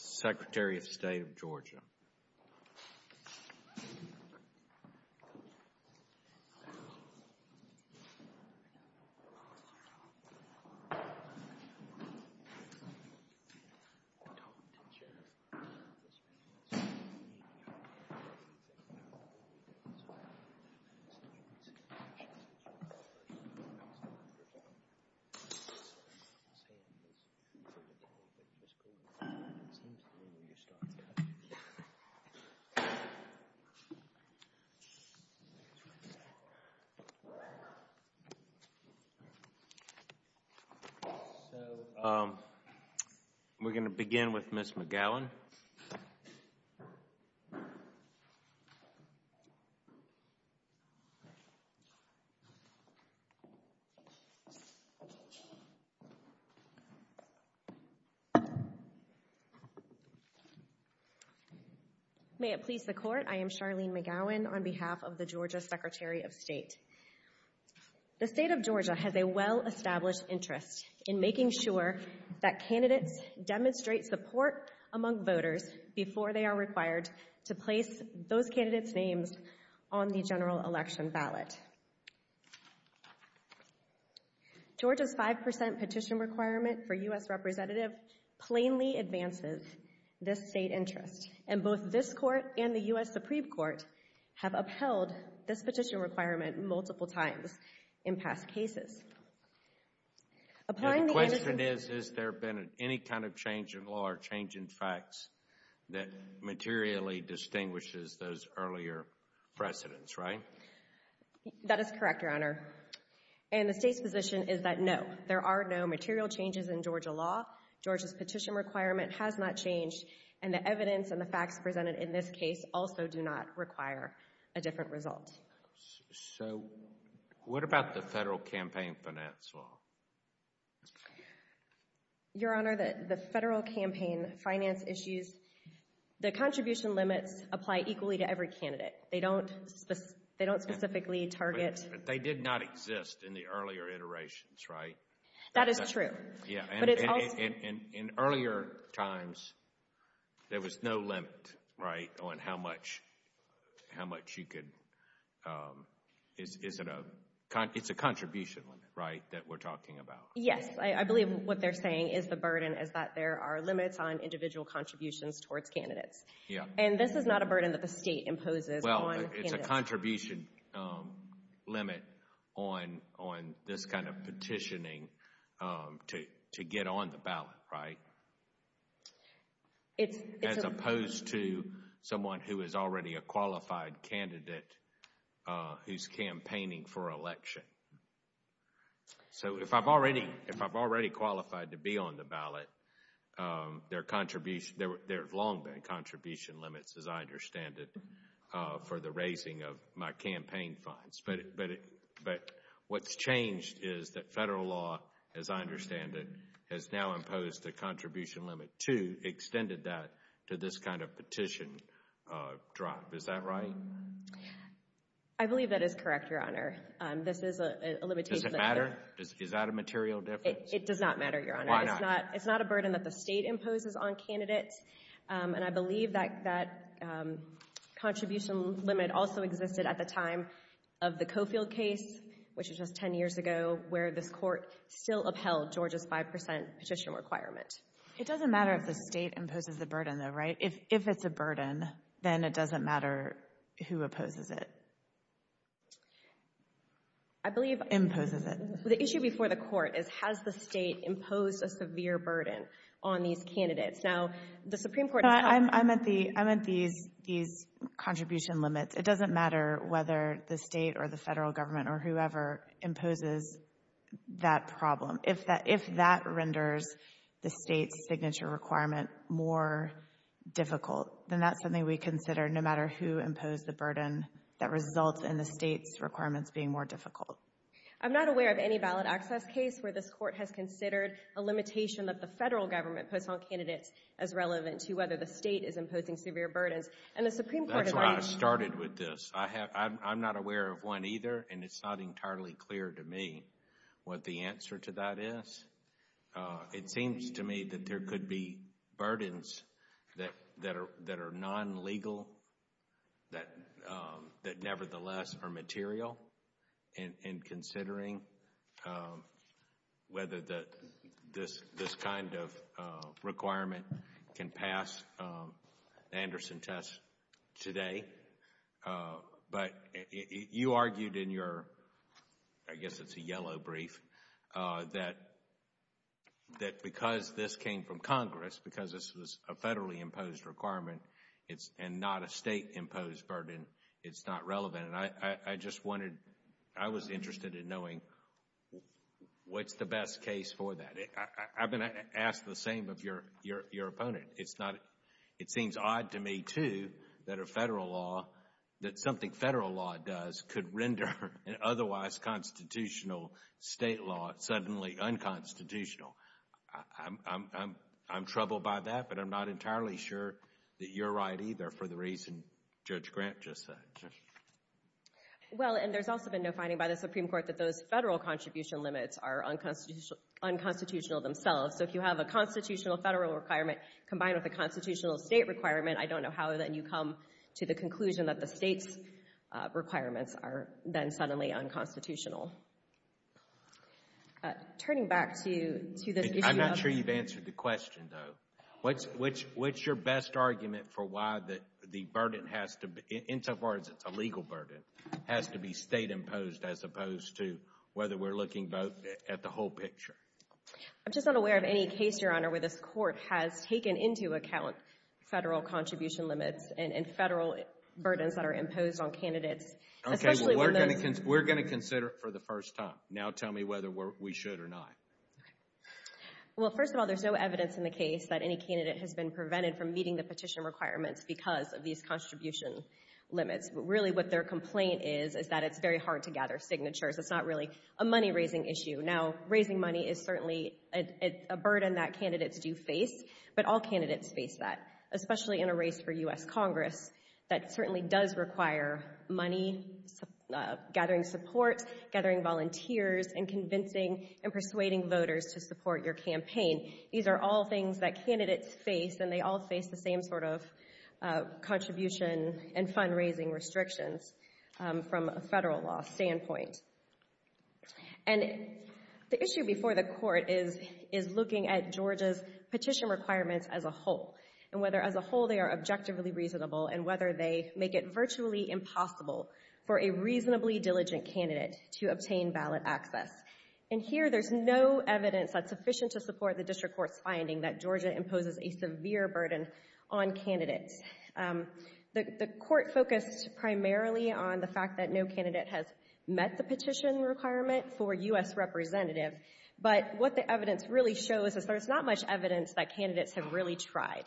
v. Secretary of State of Georgia. So, we're going to begin with Ms. McGowan. May it please the Court, I am Charlene McGowan on behalf of the Georgia Secretary of State. The State of Georgia has a well-established interest in making sure that candidates demonstrate support among voters before they are required to place those candidates' names on the general election ballot. However, Georgia's 5% petition requirement for U.S. Representative plainly advances this State interest, and both this Court and the U.S. Supreme Court have upheld this petition requirement multiple times in past cases. The question is, has there been any kind of change in law or change in facts that materially distinguishes those earlier precedents, right? That is correct, Your Honor, and the State's position is that no, there are no material changes in Georgia law. Georgia's petition requirement has not changed, and the evidence and the facts presented in this case also do not require a different result. So, what about the federal campaign finance law? Your Honor, the federal campaign finance issues, the contribution limits apply equally to every candidate. They don't specifically target… But they did not exist in the earlier iterations, right? That is true. In earlier times, there was no limit, right, on how much you could… It's a contribution limit, right, that we're talking about? Yes, I believe what they're saying is the burden is that there are limits on individual contributions towards candidates. And this is not a burden that the State imposes on candidates. There's a contribution limit on this kind of petitioning to get on the ballot, right? As opposed to someone who is already a qualified candidate who's campaigning for election. So, if I've already qualified to be on the ballot, there have long been contribution limits, as I understand it, for the raising of my campaign funds. But what's changed is that federal law, as I understand it, has now imposed a contribution limit to, extended that to this kind of petition drop. Is that right? I believe that is correct, Your Honor. This is a limitation… Does it matter? Is that a material difference? It does not matter, Your Honor. Why not? It's not a burden that the State imposes on candidates. And I believe that contribution limit also existed at the time of the Coffield case, which was just 10 years ago, where this Court still upheld Georgia's 5 percent petition requirement. It doesn't matter if the State imposes the burden, though, right? If it's a burden, then it doesn't matter who opposes it. I believe… Imposes it. The issue before the Court is, has the State imposed a severe burden on these candidates? Now, the Supreme Court… No, I meant these contribution limits. It doesn't matter whether the State or the federal government or whoever imposes that problem. If that renders the State's signature requirement more difficult, then that's something we consider no matter who imposed the burden that results in the State's requirements being more difficult. I'm not aware of any ballot access case where this Court has considered a limitation that the federal government puts on candidates as relevant to whether the State is imposing severe burdens. And the Supreme Court has already… That's where I started with this. I'm not aware of one either, and it's not entirely clear to me what the answer to that is. It seems to me that there could be burdens that are non-legal, that nevertheless are material in considering whether this kind of requirement can pass the Anderson test today. But you argued in your, I guess it's a yellow brief, that because this came from Congress, because this was a federally imposed requirement and not a State imposed burden, it's not relevant. And I just wanted… I was interested in knowing what's the best case for that. I've been asked the same of your opponent. It's not… It seems odd to me, too, that a federal law, that something federal law does could render an otherwise constitutional State law suddenly unconstitutional. I'm troubled by that, but I'm not entirely sure that you're right either for the reason Judge Grant just said. Well, and there's also been no finding by the Supreme Court that those federal contribution limits are unconstitutional themselves. So if you have a constitutional federal requirement combined with a constitutional State requirement, I don't know how then you come to the conclusion that the State's requirements are then suddenly unconstitutional. Turning back to this issue of… I'm not sure you've answered the question, though. What's your best argument for why the burden has to… in so far as it's a legal burden, has to be State-imposed as opposed to whether we're looking at the whole picture? I'm just not aware of any case, Your Honor, where this Court has taken into account federal contribution limits and federal burdens that are imposed on candidates, especially when they're… Okay, well, we're going to consider it for the first time. Now tell me whether we should or not. Well, first of all, there's no evidence in the case that any candidate has been prevented from meeting the petition requirements because of these contribution limits. But really what their complaint is is that it's very hard to gather signatures. It's not really a money-raising issue. Now raising money is certainly a burden that candidates do face, but all candidates face that, especially in a race for U.S. Congress that certainly does require money, gathering support, gathering volunteers, and convincing and persuading voters to support your campaign. These are all things that candidates face, and they all face the same sort of contribution and fundraising restrictions from a federal law standpoint. And the issue before the Court is looking at Georgia's petition requirements as a whole and whether as a whole they are objectively reasonable and whether they make it virtually impossible for a reasonably diligent candidate to obtain ballot access. And here there's no evidence that's sufficient to support the District Court's finding that Georgia imposes a severe burden on candidates. The Court focused primarily on the fact that no candidate has met the petition requirement for U.S. Representative, but what the evidence really shows is there's not much evidence that candidates have really tried.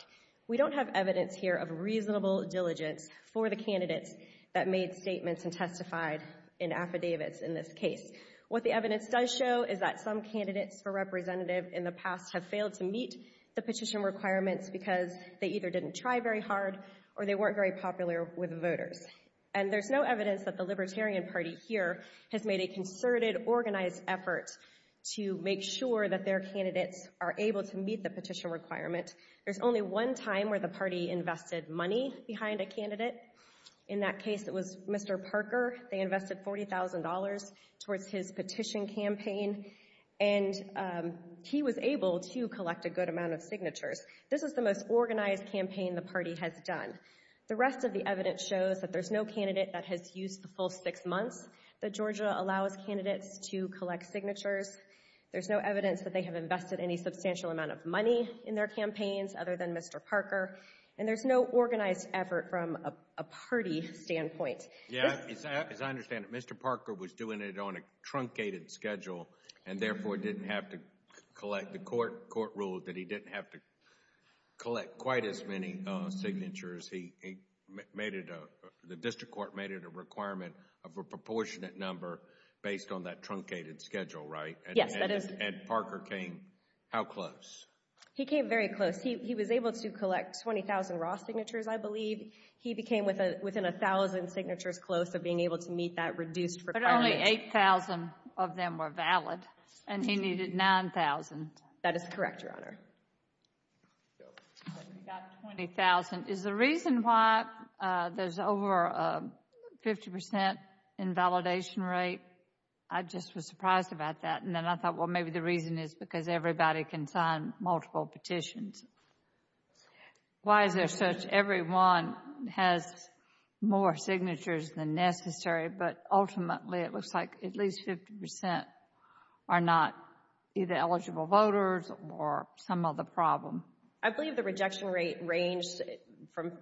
We don't have evidence here of reasonable diligence for the candidates that made statements and testified in affidavits in this case. What the evidence does show is that some candidates for Representative in the past have failed to meet the petition requirements because they either didn't try very hard or they weren't very popular with voters. And there's no evidence that the Libertarian Party here has made a concerted, organized effort to make sure that their candidates are able to meet the petition requirement. There's only one time where the party invested money behind a candidate. In that case it was Mr. Parker. They invested $40,000 towards his petition campaign. And he was able to collect a good amount of signatures. This is the most organized campaign the party has done. The rest of the evidence shows that there's no candidate that has used the full six months that Georgia allows candidates to collect signatures. There's no evidence that they have invested any substantial amount of money in their campaigns other than Mr. Parker. And there's no organized effort from a party standpoint. As I understand it, Mr. Parker was doing it on a truncated schedule and therefore didn't have to collect. The court ruled that he didn't have to collect quite as many signatures. The district court made it a requirement of a proportionate number based on that truncated schedule, right? Yes, that is. And Parker came how close? He came very close. He was able to collect 20,000 raw signatures, I believe. He became within 1,000 signatures close of being able to meet that reduced requirement. But only 8,000 of them were valid, and he needed 9,000. That is correct, Your Honor. He got 20,000. Is the reason why there's over a 50% invalidation rate? I just was surprised about that. And then I thought, well, maybe the reason is because everybody can sign multiple petitions. Why is it such everyone has more signatures than necessary, but ultimately it looks like at least 50% are not either eligible voters or some other problem? I believe the rejection rate ranged from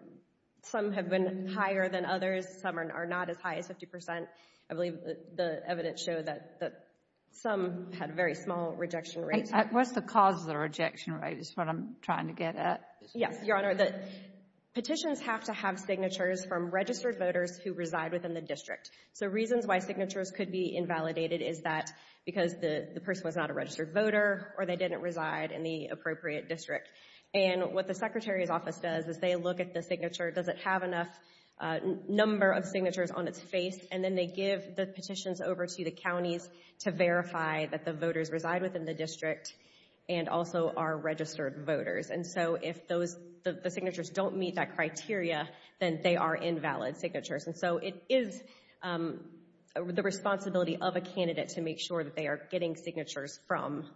some have been higher than others. Some are not as high as 50%. I believe the evidence showed that some had very small rejection rates. What's the cause of the rejection rate is what I'm trying to get at. Yes, Your Honor. Petitions have to have signatures from registered voters who reside within the district. So reasons why signatures could be invalidated is that because the person was not a registered voter or they didn't reside in the appropriate district. And what the Secretary's Office does is they look at the signature. Does it have enough number of signatures on its face? And then they give the petitions over to the counties to verify that the voters reside within the district and also are registered voters. And so if the signatures don't meet that criteria, then they are invalid signatures. And so it is the responsibility of a candidate to make sure that they are getting signatures from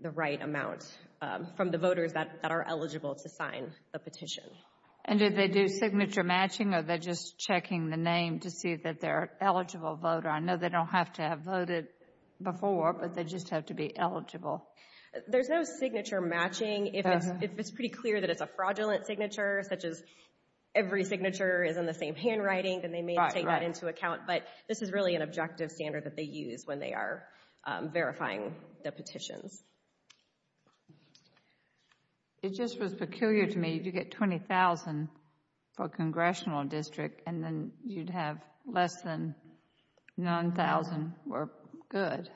the right amount, from the voters that are eligible to sign the petition. And do they do signature matching or are they just checking the name to see that they're an eligible voter? I know they don't have to have voted before, but they just have to be eligible. There's no signature matching. If it's pretty clear that it's a fraudulent signature, such as every signature is in the same handwriting, then they may take that into account. But this is really an objective standard that they use when they are verifying the petitions. It just was peculiar to me. If you get $20,000 for a congressional district and then you'd have less than $9,000, we're good.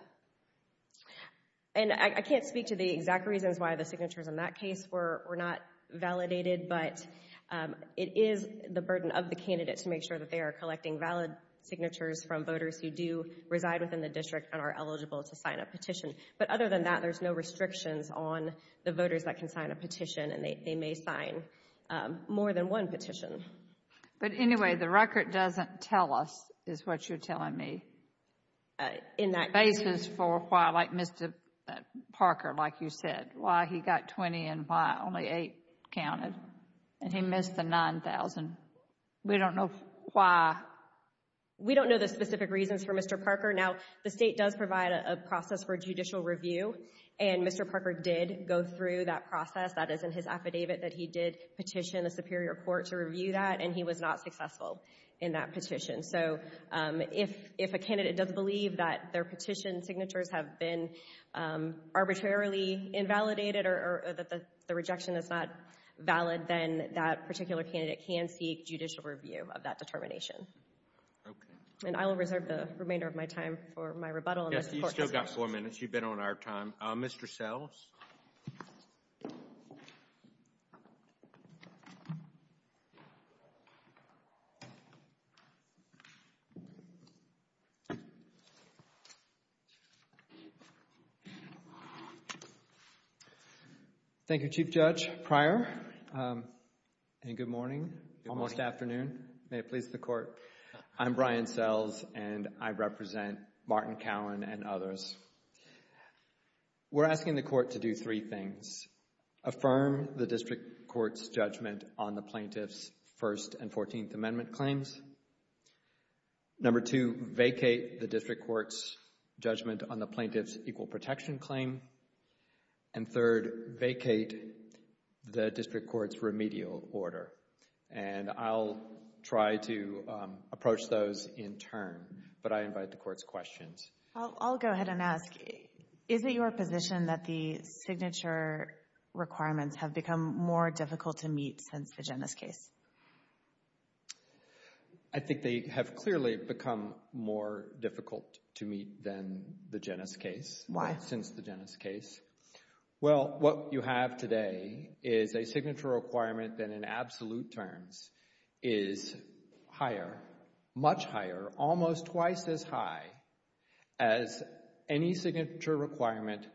And I can't speak to the exact reasons why the signatures in that case were not validated, but it is the burden of the candidate to make sure that they are collecting valid signatures from voters who do reside within the district and are eligible to sign a petition. But other than that, there's no restrictions on the voters that can sign a petition, and they may sign more than one petition. But anyway, the record doesn't tell us, is what you're telling me, the basis for why, like Mr. Parker, like you said, why he got $20,000 and why only $8,000 counted, and he missed the $9,000. We don't know why. We don't know the specific reasons for Mr. Parker. Now, the State does provide a process for judicial review, and Mr. Parker did go through that process. That is in his affidavit that he did petition the Superior Court to review that, and he was not successful in that petition. So if a candidate doesn't believe that their petition signatures have been arbitrarily invalidated or that the rejection is not valid, then that particular candidate can seek judicial review of that determination. And I will reserve the remainder of my time for my rebuttal. Yes, you've still got four minutes. You've been on our time. Mr. Sells. Thank you, Chief Judge Pryor, and good morning, almost afternoon. I'm Brian Sells, and I represent Martin Cowan and others. We're asking the court to do three things. Affirm the district court's judgment on the plaintiff's First and Fourteenth Amendment claims. Number two, vacate the district court's judgment on the plaintiff's equal protection claim. And third, vacate the district court's remedial order. And I'll try to approach those in turn, but I invite the court's questions. I'll go ahead and ask, is it your position that the signature requirements have become more difficult to meet since the Genes case? I think they have clearly become more difficult to meet than the Genes case. Why? Since the Genes case. Well, what you have today is a signature requirement that, in absolute terms, is higher, much higher, almost twice as high as any signature requirement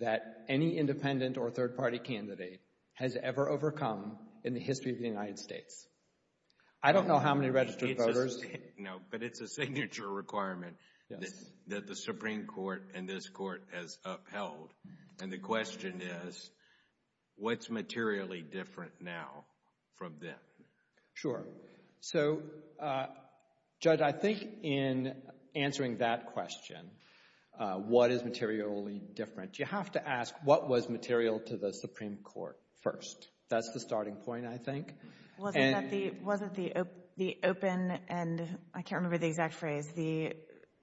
that any independent or third-party candidate has ever overcome in the history of the United States. I don't know how many registered voters. No, but it's a signature requirement that the Supreme Court and this Court has upheld. And the question is, what's materially different now from then? Sure. So, Judge, I think in answering that question, what is materially different, you have to ask what was material to the Supreme Court first. That's the starting point, I think. Was it the open, and I can't remember the exact phrase, the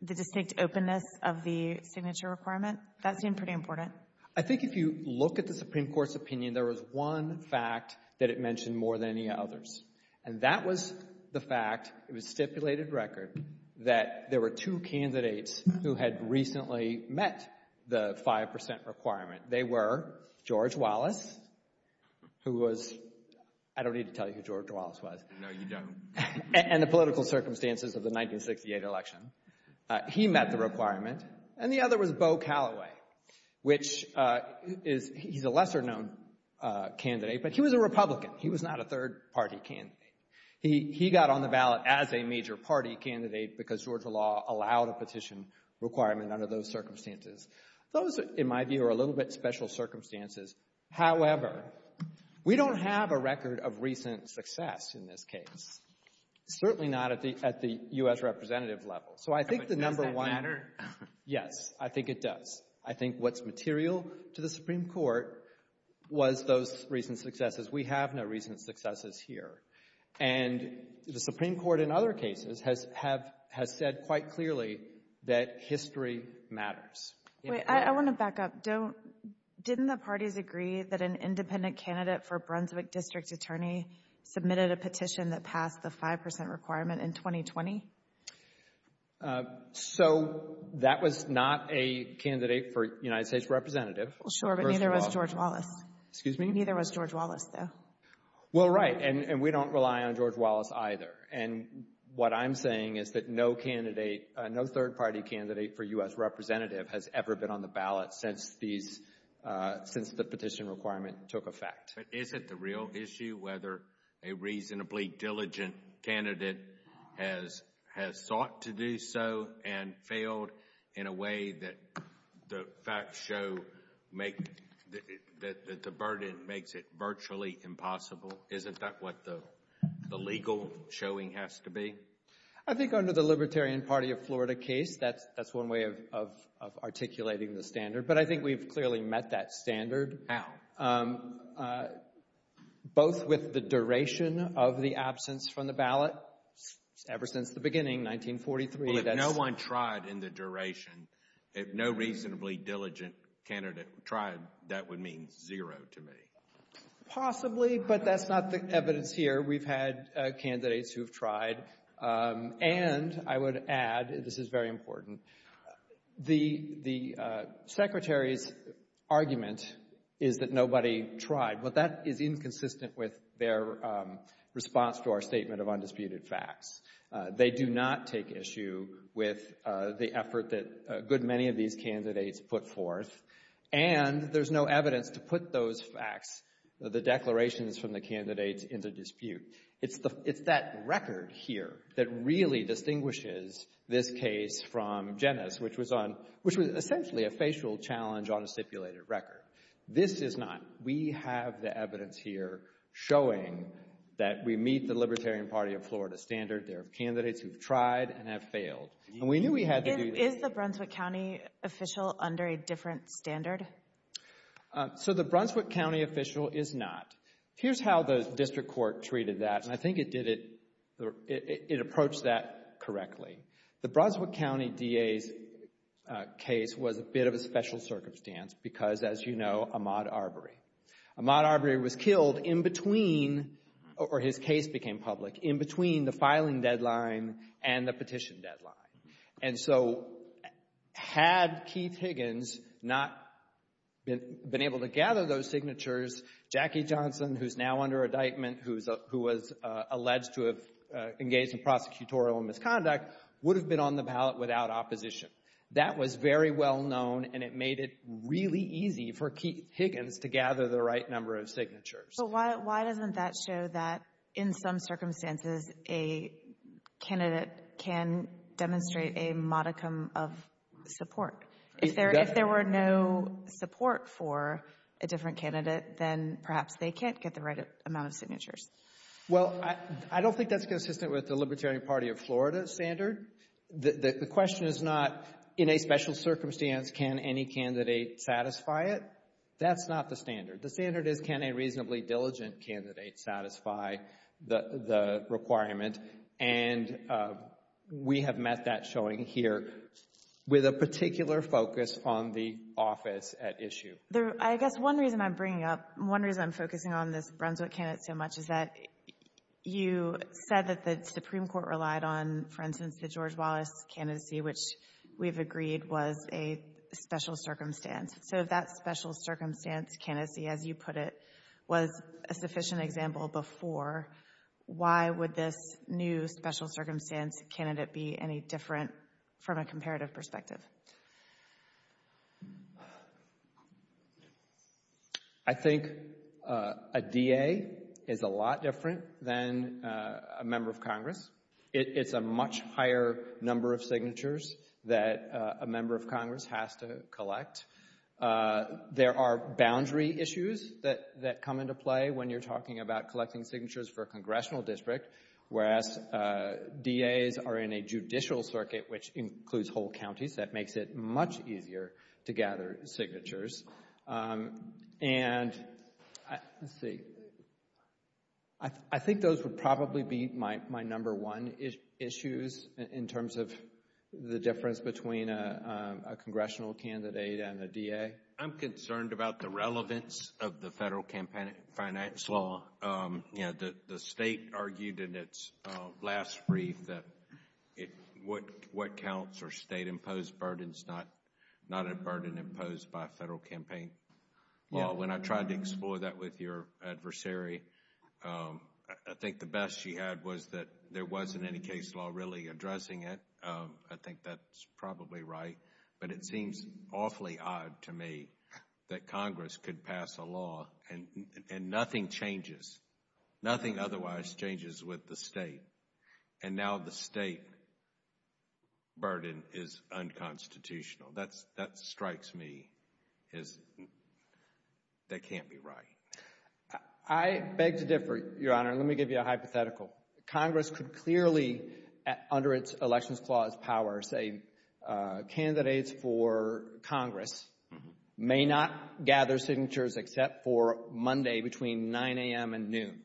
distinct openness of the signature requirement? That seemed pretty important. I think if you look at the Supreme Court's opinion, there was one fact that it mentioned more than any others, and that was the fact, it was stipulated record, that there were two candidates who had recently met the 5% requirement. They were George Wallace, who was, I don't need to tell you who George Wallace was. No, you don't. And the political circumstances of the 1968 election. He met the requirement. And the other was Beau Calloway, which is, he's a lesser-known candidate, but he was a Republican. He was not a third-party candidate. He got on the ballot as a major-party candidate because Georgia law allowed a petition requirement under those circumstances. Those, in my view, are a little bit special circumstances. However, we don't have a record of recent success in this case, certainly not at the U.S. representative level. So I think the number one — But does that matter? Yes. I think it does. I think what's material to the Supreme Court was those recent successes. We have no recent successes here. And the Supreme Court in other cases has said quite clearly that history matters. Wait. I want to back up. Didn't the parties agree that an independent candidate for Brunswick district attorney submitted a petition that passed the 5% requirement in 2020? So that was not a candidate for United States representative. Sure, but neither was George Wallace. Excuse me? Neither was George Wallace, though. Well, right, and we don't rely on George Wallace either. And what I'm saying is that no third-party candidate for U.S. representative has ever been on the ballot since the petition requirement took effect. But is it the real issue whether a reasonably diligent candidate has sought to do so and failed in a way that the facts show that the burden makes it virtually impossible? Isn't that what the legal showing has to be? I think under the Libertarian Party of Florida case, that's one way of articulating the standard. But I think we've clearly met that standard. How? Both with the duration of the absence from the ballot ever since the beginning, 1943. Well, if no one tried in the duration, if no reasonably diligent candidate tried, that would mean zero to me. Possibly, but that's not the evidence here. We've had candidates who have tried. And I would add, this is very important, the secretary's argument is that nobody tried. But that is inconsistent with their response to our statement of undisputed facts. They do not take issue with the effort that a good many of these candidates put forth. And there's no evidence to put those facts, the declarations from the candidates, into dispute. It's that record here that really distinguishes this case from Jenna's, which was essentially a facial challenge on a stipulated record. This is not. We have the evidence here showing that we meet the Libertarian Party of Florida standard. There are candidates who have tried and have failed. And we knew we had to do this. Is the Brunswick County official under a different standard? So the Brunswick County official is not. Here's how the district court treated that, and I think it approached that correctly. The Brunswick County DA's case was a bit of a special circumstance because, as you know, Ahmaud Arbery. Ahmaud Arbery was killed in between, or his case became public, in between the filing deadline and the petition deadline. And so had Keith Higgins not been able to gather those signatures, Jackie Johnson, who's now under indictment, who was alleged to have engaged in prosecutorial misconduct, would have been on the ballot without opposition. That was very well known, and it made it really easy for Keith Higgins to gather the right number of signatures. So why doesn't that show that, in some circumstances, a candidate can demonstrate a modicum of support? If there were no support for a different candidate, then perhaps they can't get the right amount of signatures. Well, I don't think that's consistent with the Libertarian Party of Florida standard. The question is not, in a special circumstance, can any candidate satisfy it? That's not the standard. The standard is, can a reasonably diligent candidate satisfy the requirement? And we have met that showing here with a particular focus on the office at issue. I guess one reason I'm bringing up, one reason I'm focusing on this Brunswick candidate so much, is that you said that the Supreme Court relied on, for instance, the George Wallace candidacy, which we've agreed was a special circumstance. So if that special circumstance candidacy, as you put it, was a sufficient example before, why would this new special circumstance candidate be any different from a comparative perspective? I think a DA is a lot different than a member of Congress. It's a much higher number of signatures that a member of Congress has to collect. There are boundary issues that come into play when you're talking about collecting signatures for a congressional district, whereas DAs are in a judicial circuit, which includes whole counties. That makes it much easier to gather signatures. And let's see. I think those would probably be my number one issues in terms of the difference between a congressional candidate and a DA. I'm concerned about the relevance of the federal campaign finance law. The state argued in its last brief that what counts are state imposed burdens, not a burden imposed by federal campaign law. When I tried to explore that with your adversary, I think the best she had was that there wasn't any case law really addressing it. I think that's probably right. But it seems awfully odd to me that Congress could pass a law and nothing changes, nothing otherwise changes with the state, and now the state burden is unconstitutional. That strikes me as that can't be right. I beg to differ, Your Honor, and let me give you a hypothetical. Congress could clearly, under its Elections Clause power, say candidates for Congress may not gather signatures except for Monday between 9 a.m. and noon.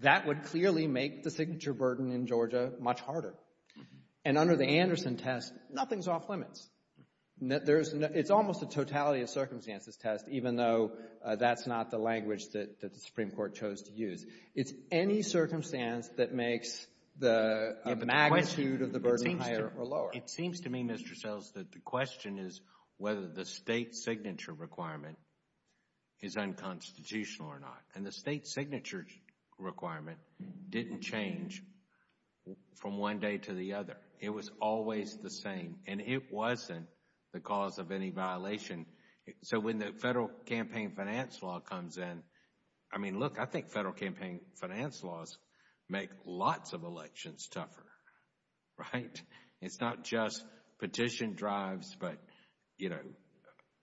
That would clearly make the signature burden in Georgia much harder. And under the Anderson test, nothing's off limits. It's almost a totality of circumstances test, even though that's not the language that the Supreme Court chose to use. It's any circumstance that makes the magnitude of the burden higher or lower. Well, it seems to me, Mr. Sells, that the question is whether the state signature requirement is unconstitutional or not. And the state signature requirement didn't change from one day to the other. It was always the same, and it wasn't the cause of any violation. So when the federal campaign finance law comes in, I mean, look, I think federal campaign finance laws make lots of elections tougher, right? It's not just petition drives, but, you know,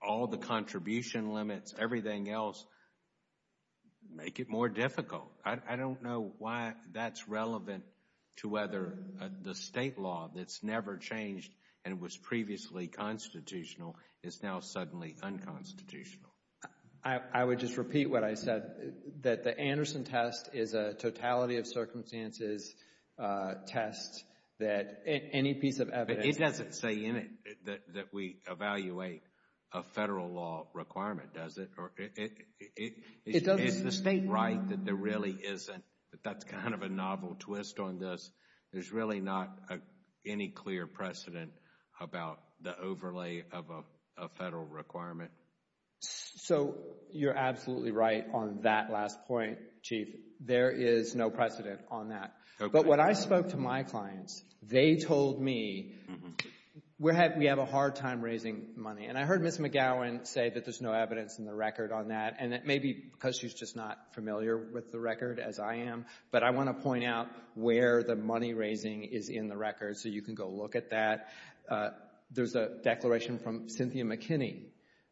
all the contribution limits, everything else, make it more difficult. I don't know why that's relevant to whether the state law that's never changed and was previously constitutional is now suddenly unconstitutional. I would just repeat what I said, that the Anderson test is a totality of circumstances test that any piece of evidence But it doesn't say in it that we evaluate a federal law requirement, does it? Is the state right that there really isn't, that that's kind of a novel twist on this? There's really not any clear precedent about the overlay of a federal requirement? So you're absolutely right on that last point, Chief. There is no precedent on that. But when I spoke to my clients, they told me, we have a hard time raising money. And I heard Ms. McGowan say that there's no evidence in the record on that. And that may be because she's just not familiar with the record as I am. But I want to point out where the money raising is in the record so you can go look at that. There's a declaration from Cynthia McKinney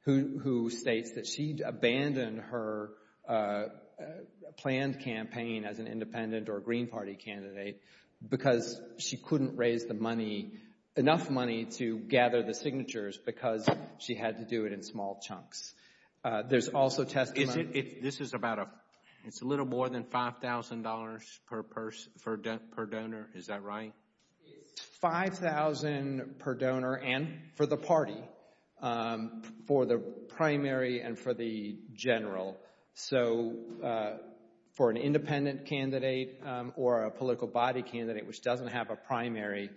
who states that she'd abandoned her planned campaign as an independent or Green Party candidate because she couldn't raise the money, enough money to gather the signatures because she had to do it in small chunks. There's also testimony. This is about a little more than $5,000 per donor, is that right? It's $5,000 per donor and for the party, for the primary and for the general. So for an independent candidate or a political body candidate which doesn't have a primary,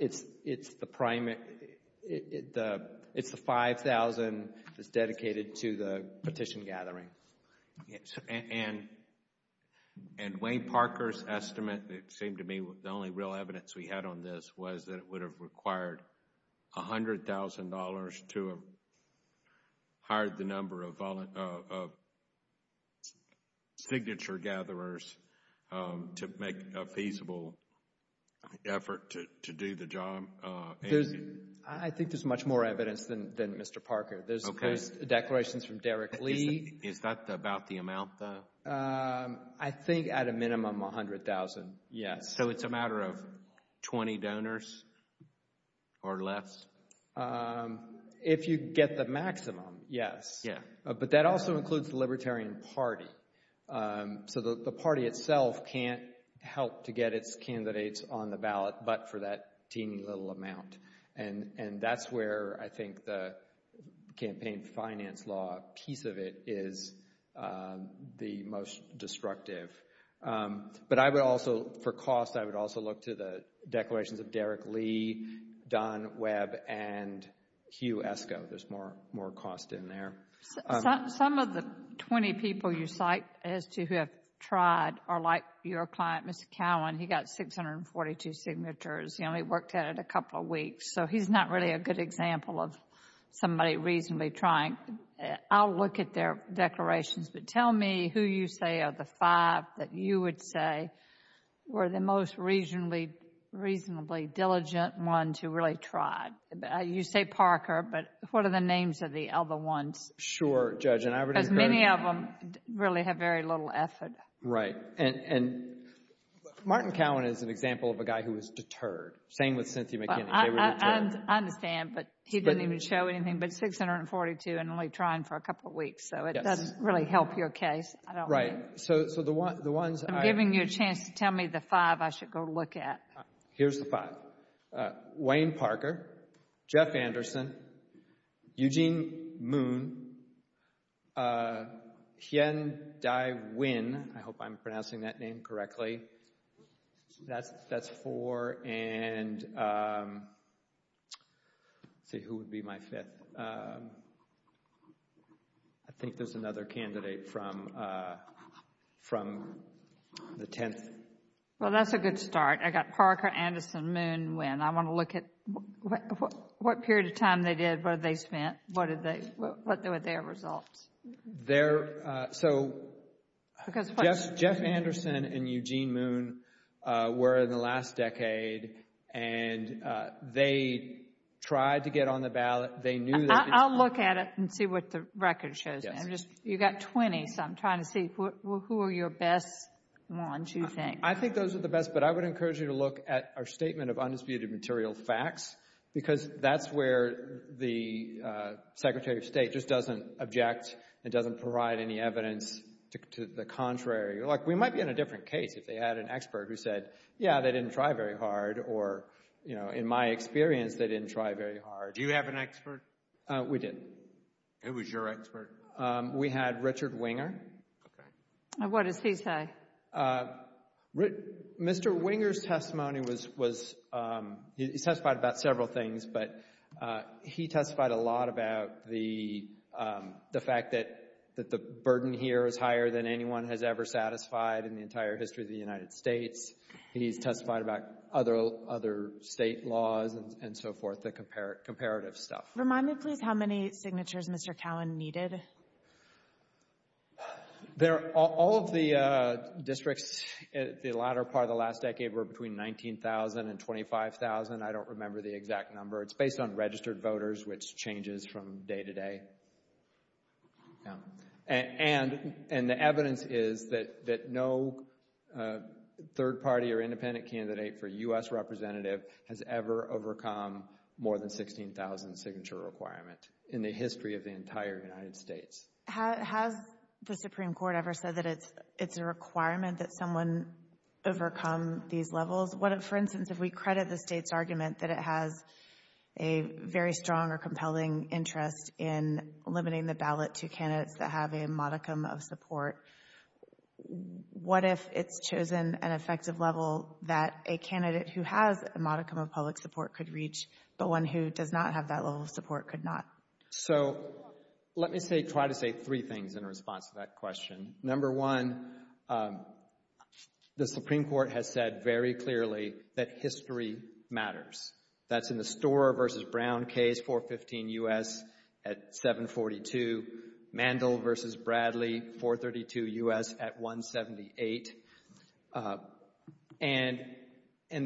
it's the $5,000 that's dedicated to the petition gathering. And Wayne Parker's estimate, it seemed to me, the only real evidence we had on this was that it would have required $100,000 to hire the number of signature gatherers to make a feasible effort to do the job. I think there's much more evidence than Mr. Parker. There's declarations from Derek Lee. Is that about the amount though? I think at a minimum $100,000, yes. So it's a matter of 20 donors or less? If you get the maximum, yes. But that also includes the Libertarian Party. So the party itself can't help to get its candidates on the ballot but for that teeny little amount. And that's where I think the campaign finance law piece of it is the most destructive. But I would also, for cost, I would also look to the declarations of Derek Lee, Don Webb, and Hugh Esko. There's more cost in there. Some of the 20 people you cite as to who have tried are like your client, Mr. Cowan. He got 642 signatures. He only worked at it a couple of weeks. So he's not really a good example of somebody reasonably trying. I'll look at their declarations. But tell me who you say are the five that you would say were the most reasonably diligent ones who really tried. You say Parker, but what are the names of the other ones? Sure, Judge. Because many of them really have very little effort. Right. And Martin Cowan is an example of a guy who was deterred. Same with Cynthia McKinney. They were deterred. I understand, but he didn't even show anything but 642 and only trying for a couple of weeks. So it doesn't really help your case. Right. So the ones I— I'm giving you a chance to tell me the five I should go look at. Here's the five. Wayne Parker, Jeff Anderson, Eugene Moon, Hien Dai Nguyen. I hope I'm pronouncing that name correctly. That's four. And let's see. Who would be my fifth? I think there's another candidate from the tenth. Well, that's a good start. I got Parker, Anderson, Moon, Nguyen. I want to look at what period of time they did, what they spent, what were their results. So Jeff Anderson and Eugene Moon were in the last decade, and they tried to get on the ballot. They knew that— I'll look at it and see what the record shows. You've got 20, so I'm trying to see who are your best ones, you think. I think those are the best, but I would encourage you to look at our statement of undisputed material facts because that's where the Secretary of State just doesn't object and doesn't provide any evidence to the contrary. Like, we might be in a different case if they had an expert who said, yeah, they didn't try very hard, or, you know, in my experience, they didn't try very hard. Do you have an expert? We did. Who was your expert? We had Richard Winger. What does he say? Mr. Winger's testimony was—he testified about several things, but he testified a lot about the fact that the burden here is higher than anyone has ever satisfied in the entire history of the United States. He's testified about other state laws and so forth, the comparative stuff. Remind me, please, how many signatures Mr. Cowen needed. All of the districts in the latter part of the last decade were between 19,000 and 25,000. I don't remember the exact number. It's based on registered voters, which changes from day to day. And the evidence is that no third party or independent candidate for U.S. representative has ever overcome more than 16,000 signature requirement in the history of the entire United States. Has the Supreme Court ever said that it's a requirement that someone overcome these levels? For instance, if we credit the state's argument that it has a very strong or compelling interest in limiting the ballot to candidates that have a modicum of support, what if it's chosen an effective level that a candidate who has a modicum of public support could reach, but one who does not have that level of support could not? So let me say—try to say three things in response to that question. Number one, the Supreme Court has said very clearly that history matters. That's in the Storer v. Brown case, 415 U.S. at 742. Mandel v. Bradley, 432 U.S. at 178. And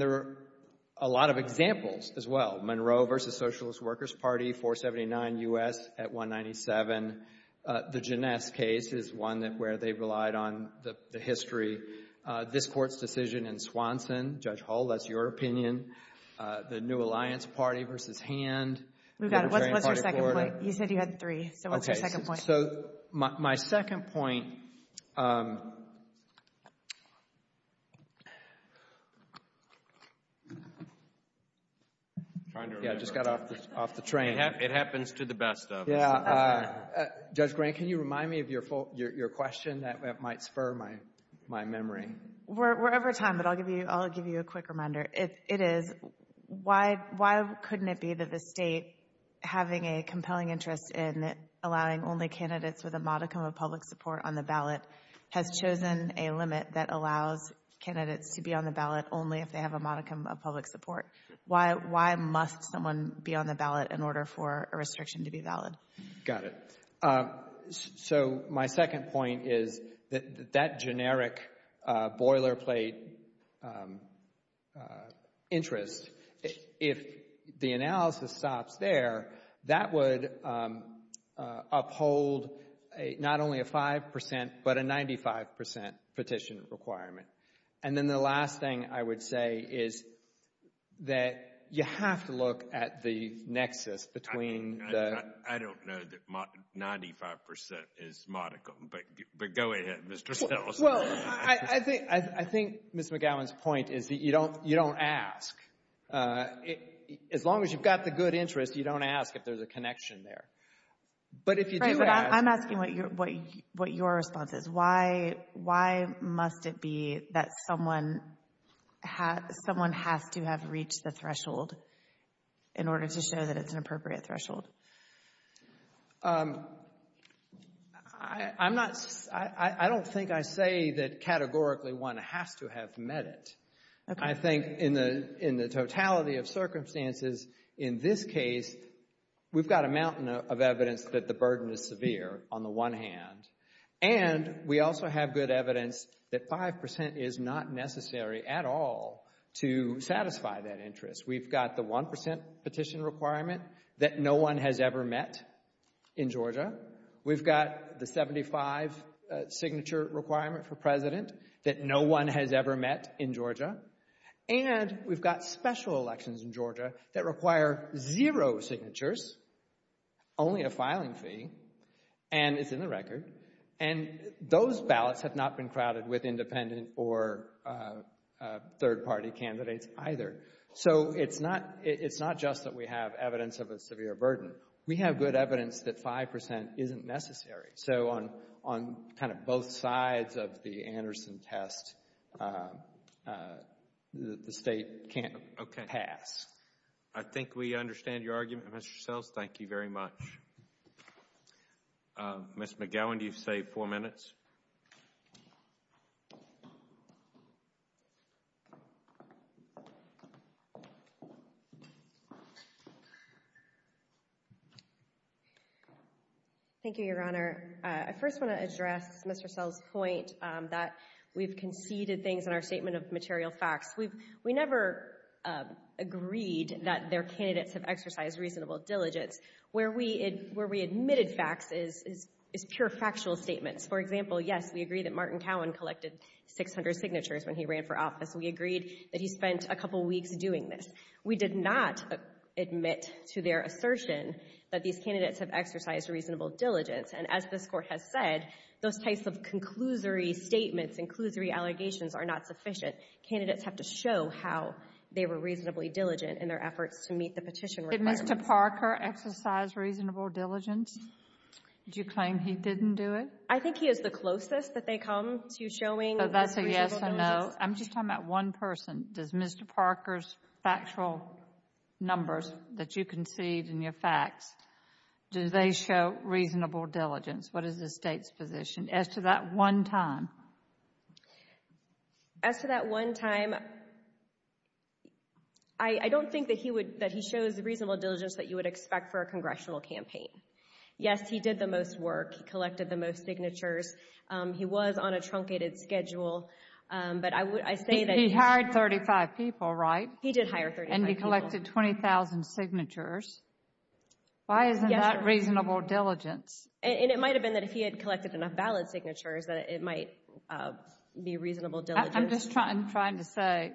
there are a lot of examples as well. Monroe v. Socialist Workers' Party, 479 U.S. at 197. The Ginesse case is one where they relied on the history. This Court's decision in Swanson, Judge Hull, that's your opinion. The New Alliance Party v. Hand. We've got it. What's your second point? He said you had three, so what's your second point? Okay, so my second point— Yeah, I just got off the train. It happens to the best of us. Judge Grant, can you remind me of your question? That might spur my memory. We're over time, but I'll give you a quick reminder. It is, why couldn't it be that the state, having a compelling interest in allowing only candidates with a modicum of public support on the ballot, has chosen a limit that allows candidates to be on the ballot only if they have a modicum of public support? Why must someone be on the ballot in order for a restriction to be valid? Got it. So my second point is that that generic boilerplate interest, if the analysis stops there, that would uphold not only a 5%, but a 95% petition requirement. And then the last thing I would say is that you have to look at the nexus between— I don't know that 95% is modicum, but go ahead, Mr. Stelzner. Well, I think Ms. McGowan's point is that you don't ask. As long as you've got the good interest, you don't ask if there's a connection there. Right, but I'm asking what your response is. Why must it be that someone has to have reached the threshold in order to show that it's an appropriate threshold? I'm not—I don't think I say that categorically one has to have met it. I think in the totality of circumstances, in this case, we've got a mountain of evidence that the burden is severe on the one hand, and we also have good evidence that 5% is not necessary at all to satisfy that interest. We've got the 1% petition requirement that no one has ever met in Georgia. We've got the 75 signature requirement for president that no one has ever met in Georgia. And we've got special elections in Georgia that require zero signatures, only a filing fee, and it's in the record. And those ballots have not been crowded with independent or third-party candidates either. So it's not just that we have evidence of a severe burden. We have good evidence that 5% isn't necessary. So on kind of both sides of the Anderson test, the State can't pass. I think we understand your argument, Mr. Sells. Thank you very much. Ms. McGowan, do you have four minutes? Thank you, Your Honor. I first want to address Mr. Sells' point that we've conceded things in our statement of material facts. We never agreed that their candidates have exercised reasonable diligence. Where we admitted facts is pure factual statements. For example, yes, we agree that Martin Cowan collected 600 signatures when he ran for office. We agreed that he spent a couple weeks doing this. We did not admit to their assertion that these candidates have exercised reasonable diligence. And as this Court has said, those types of conclusory statements and conclusory allegations are not sufficient. Candidates have to show how they were reasonably diligent in their efforts to meet the petition requirements. Did Mr. Parker exercise reasonable diligence? Did you claim he didn't do it? I think he is the closest that they come to showing reasonable diligence. So that's a yes or no? I'm just talking about one person. Does Mr. Parker's factual numbers that you concede in your facts, do they show reasonable diligence? What is the State's position as to that one time? As to that one time, I don't think that he shows reasonable diligence that you would expect for a congressional campaign. Yes, he did the most work. He collected the most signatures. He was on a truncated schedule, but I say that he He hired 35 people, right? He did hire 35 people. And he collected 20,000 signatures. Why isn't that reasonable diligence? And it might have been that if he had collected enough ballot signatures that it might be reasonable diligence. I'm just trying to say,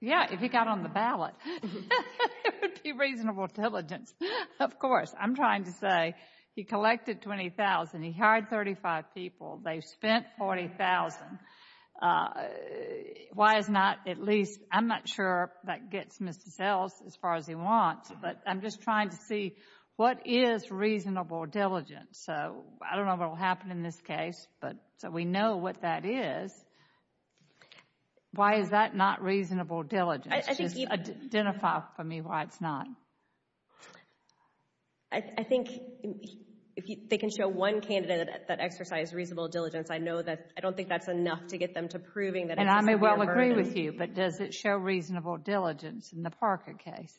yeah, if he got on the ballot, it would be reasonable diligence. Of course. I'm trying to say he collected 20,000. He hired 35 people. They spent 40,000. Why is not, at least, I'm not sure that gets Mr. Sells as far as he wants, but I'm just trying to see what is reasonable diligence. So, I don't know what will happen in this case, but we know what that is. Why is that not reasonable diligence? Just identify for me why it's not. I think if they can show one candidate that exercised reasonable diligence, I know that, I don't think that's enough to get them to proving that it's reasonable diligence. And I may well agree with you, but does it show reasonable diligence in the Parker case?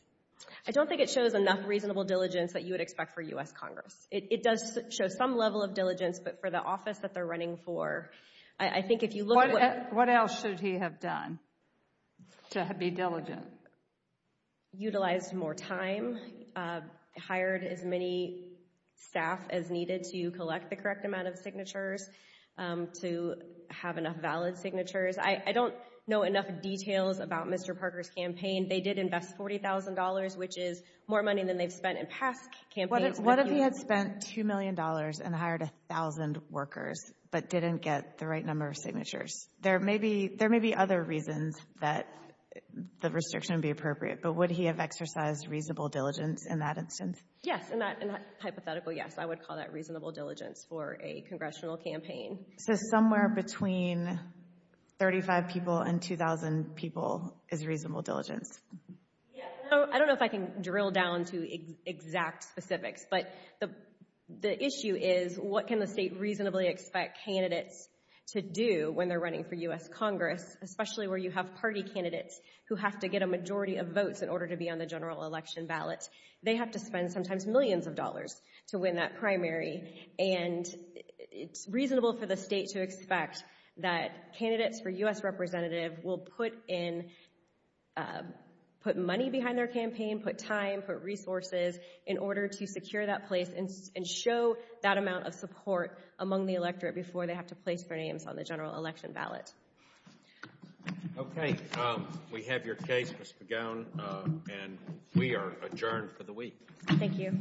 I don't think it shows enough reasonable diligence that you would expect for U.S. Congress. It does show some level of diligence, but for the office that they're running for, I think if you look at what… What else should he have done to be diligent? Utilized more time, hired as many staff as needed to collect the correct amount of signatures, to have enough valid signatures. I don't know enough details about Mr. Parker's campaign. They did invest $40,000, which is more money than they've spent in past campaigns. What if he had spent $2 million and hired 1,000 workers but didn't get the right number of signatures? There may be other reasons that the restriction would be appropriate, but would he have exercised reasonable diligence in that instance? Yes, in that hypothetical, yes. I would call that reasonable diligence for a congressional campaign. So somewhere between 35 people and 2,000 people is reasonable diligence? I don't know if I can drill down to exact specifics, but the issue is what can the state reasonably expect candidates to do when they're running for U.S. Congress, especially where you have party candidates who have to get a majority of votes in order to be on the general election ballot. They have to spend sometimes millions of dollars to win that primary, and it's reasonable for the state to expect that candidates for U.S. representative will put money behind their campaign, put time, put resources in order to secure that place and show that amount of support among the electorate before they have to place their names on the general election ballot. Okay. We have your case, Ms. McGowan, and we are adjourned for the week. Thank you.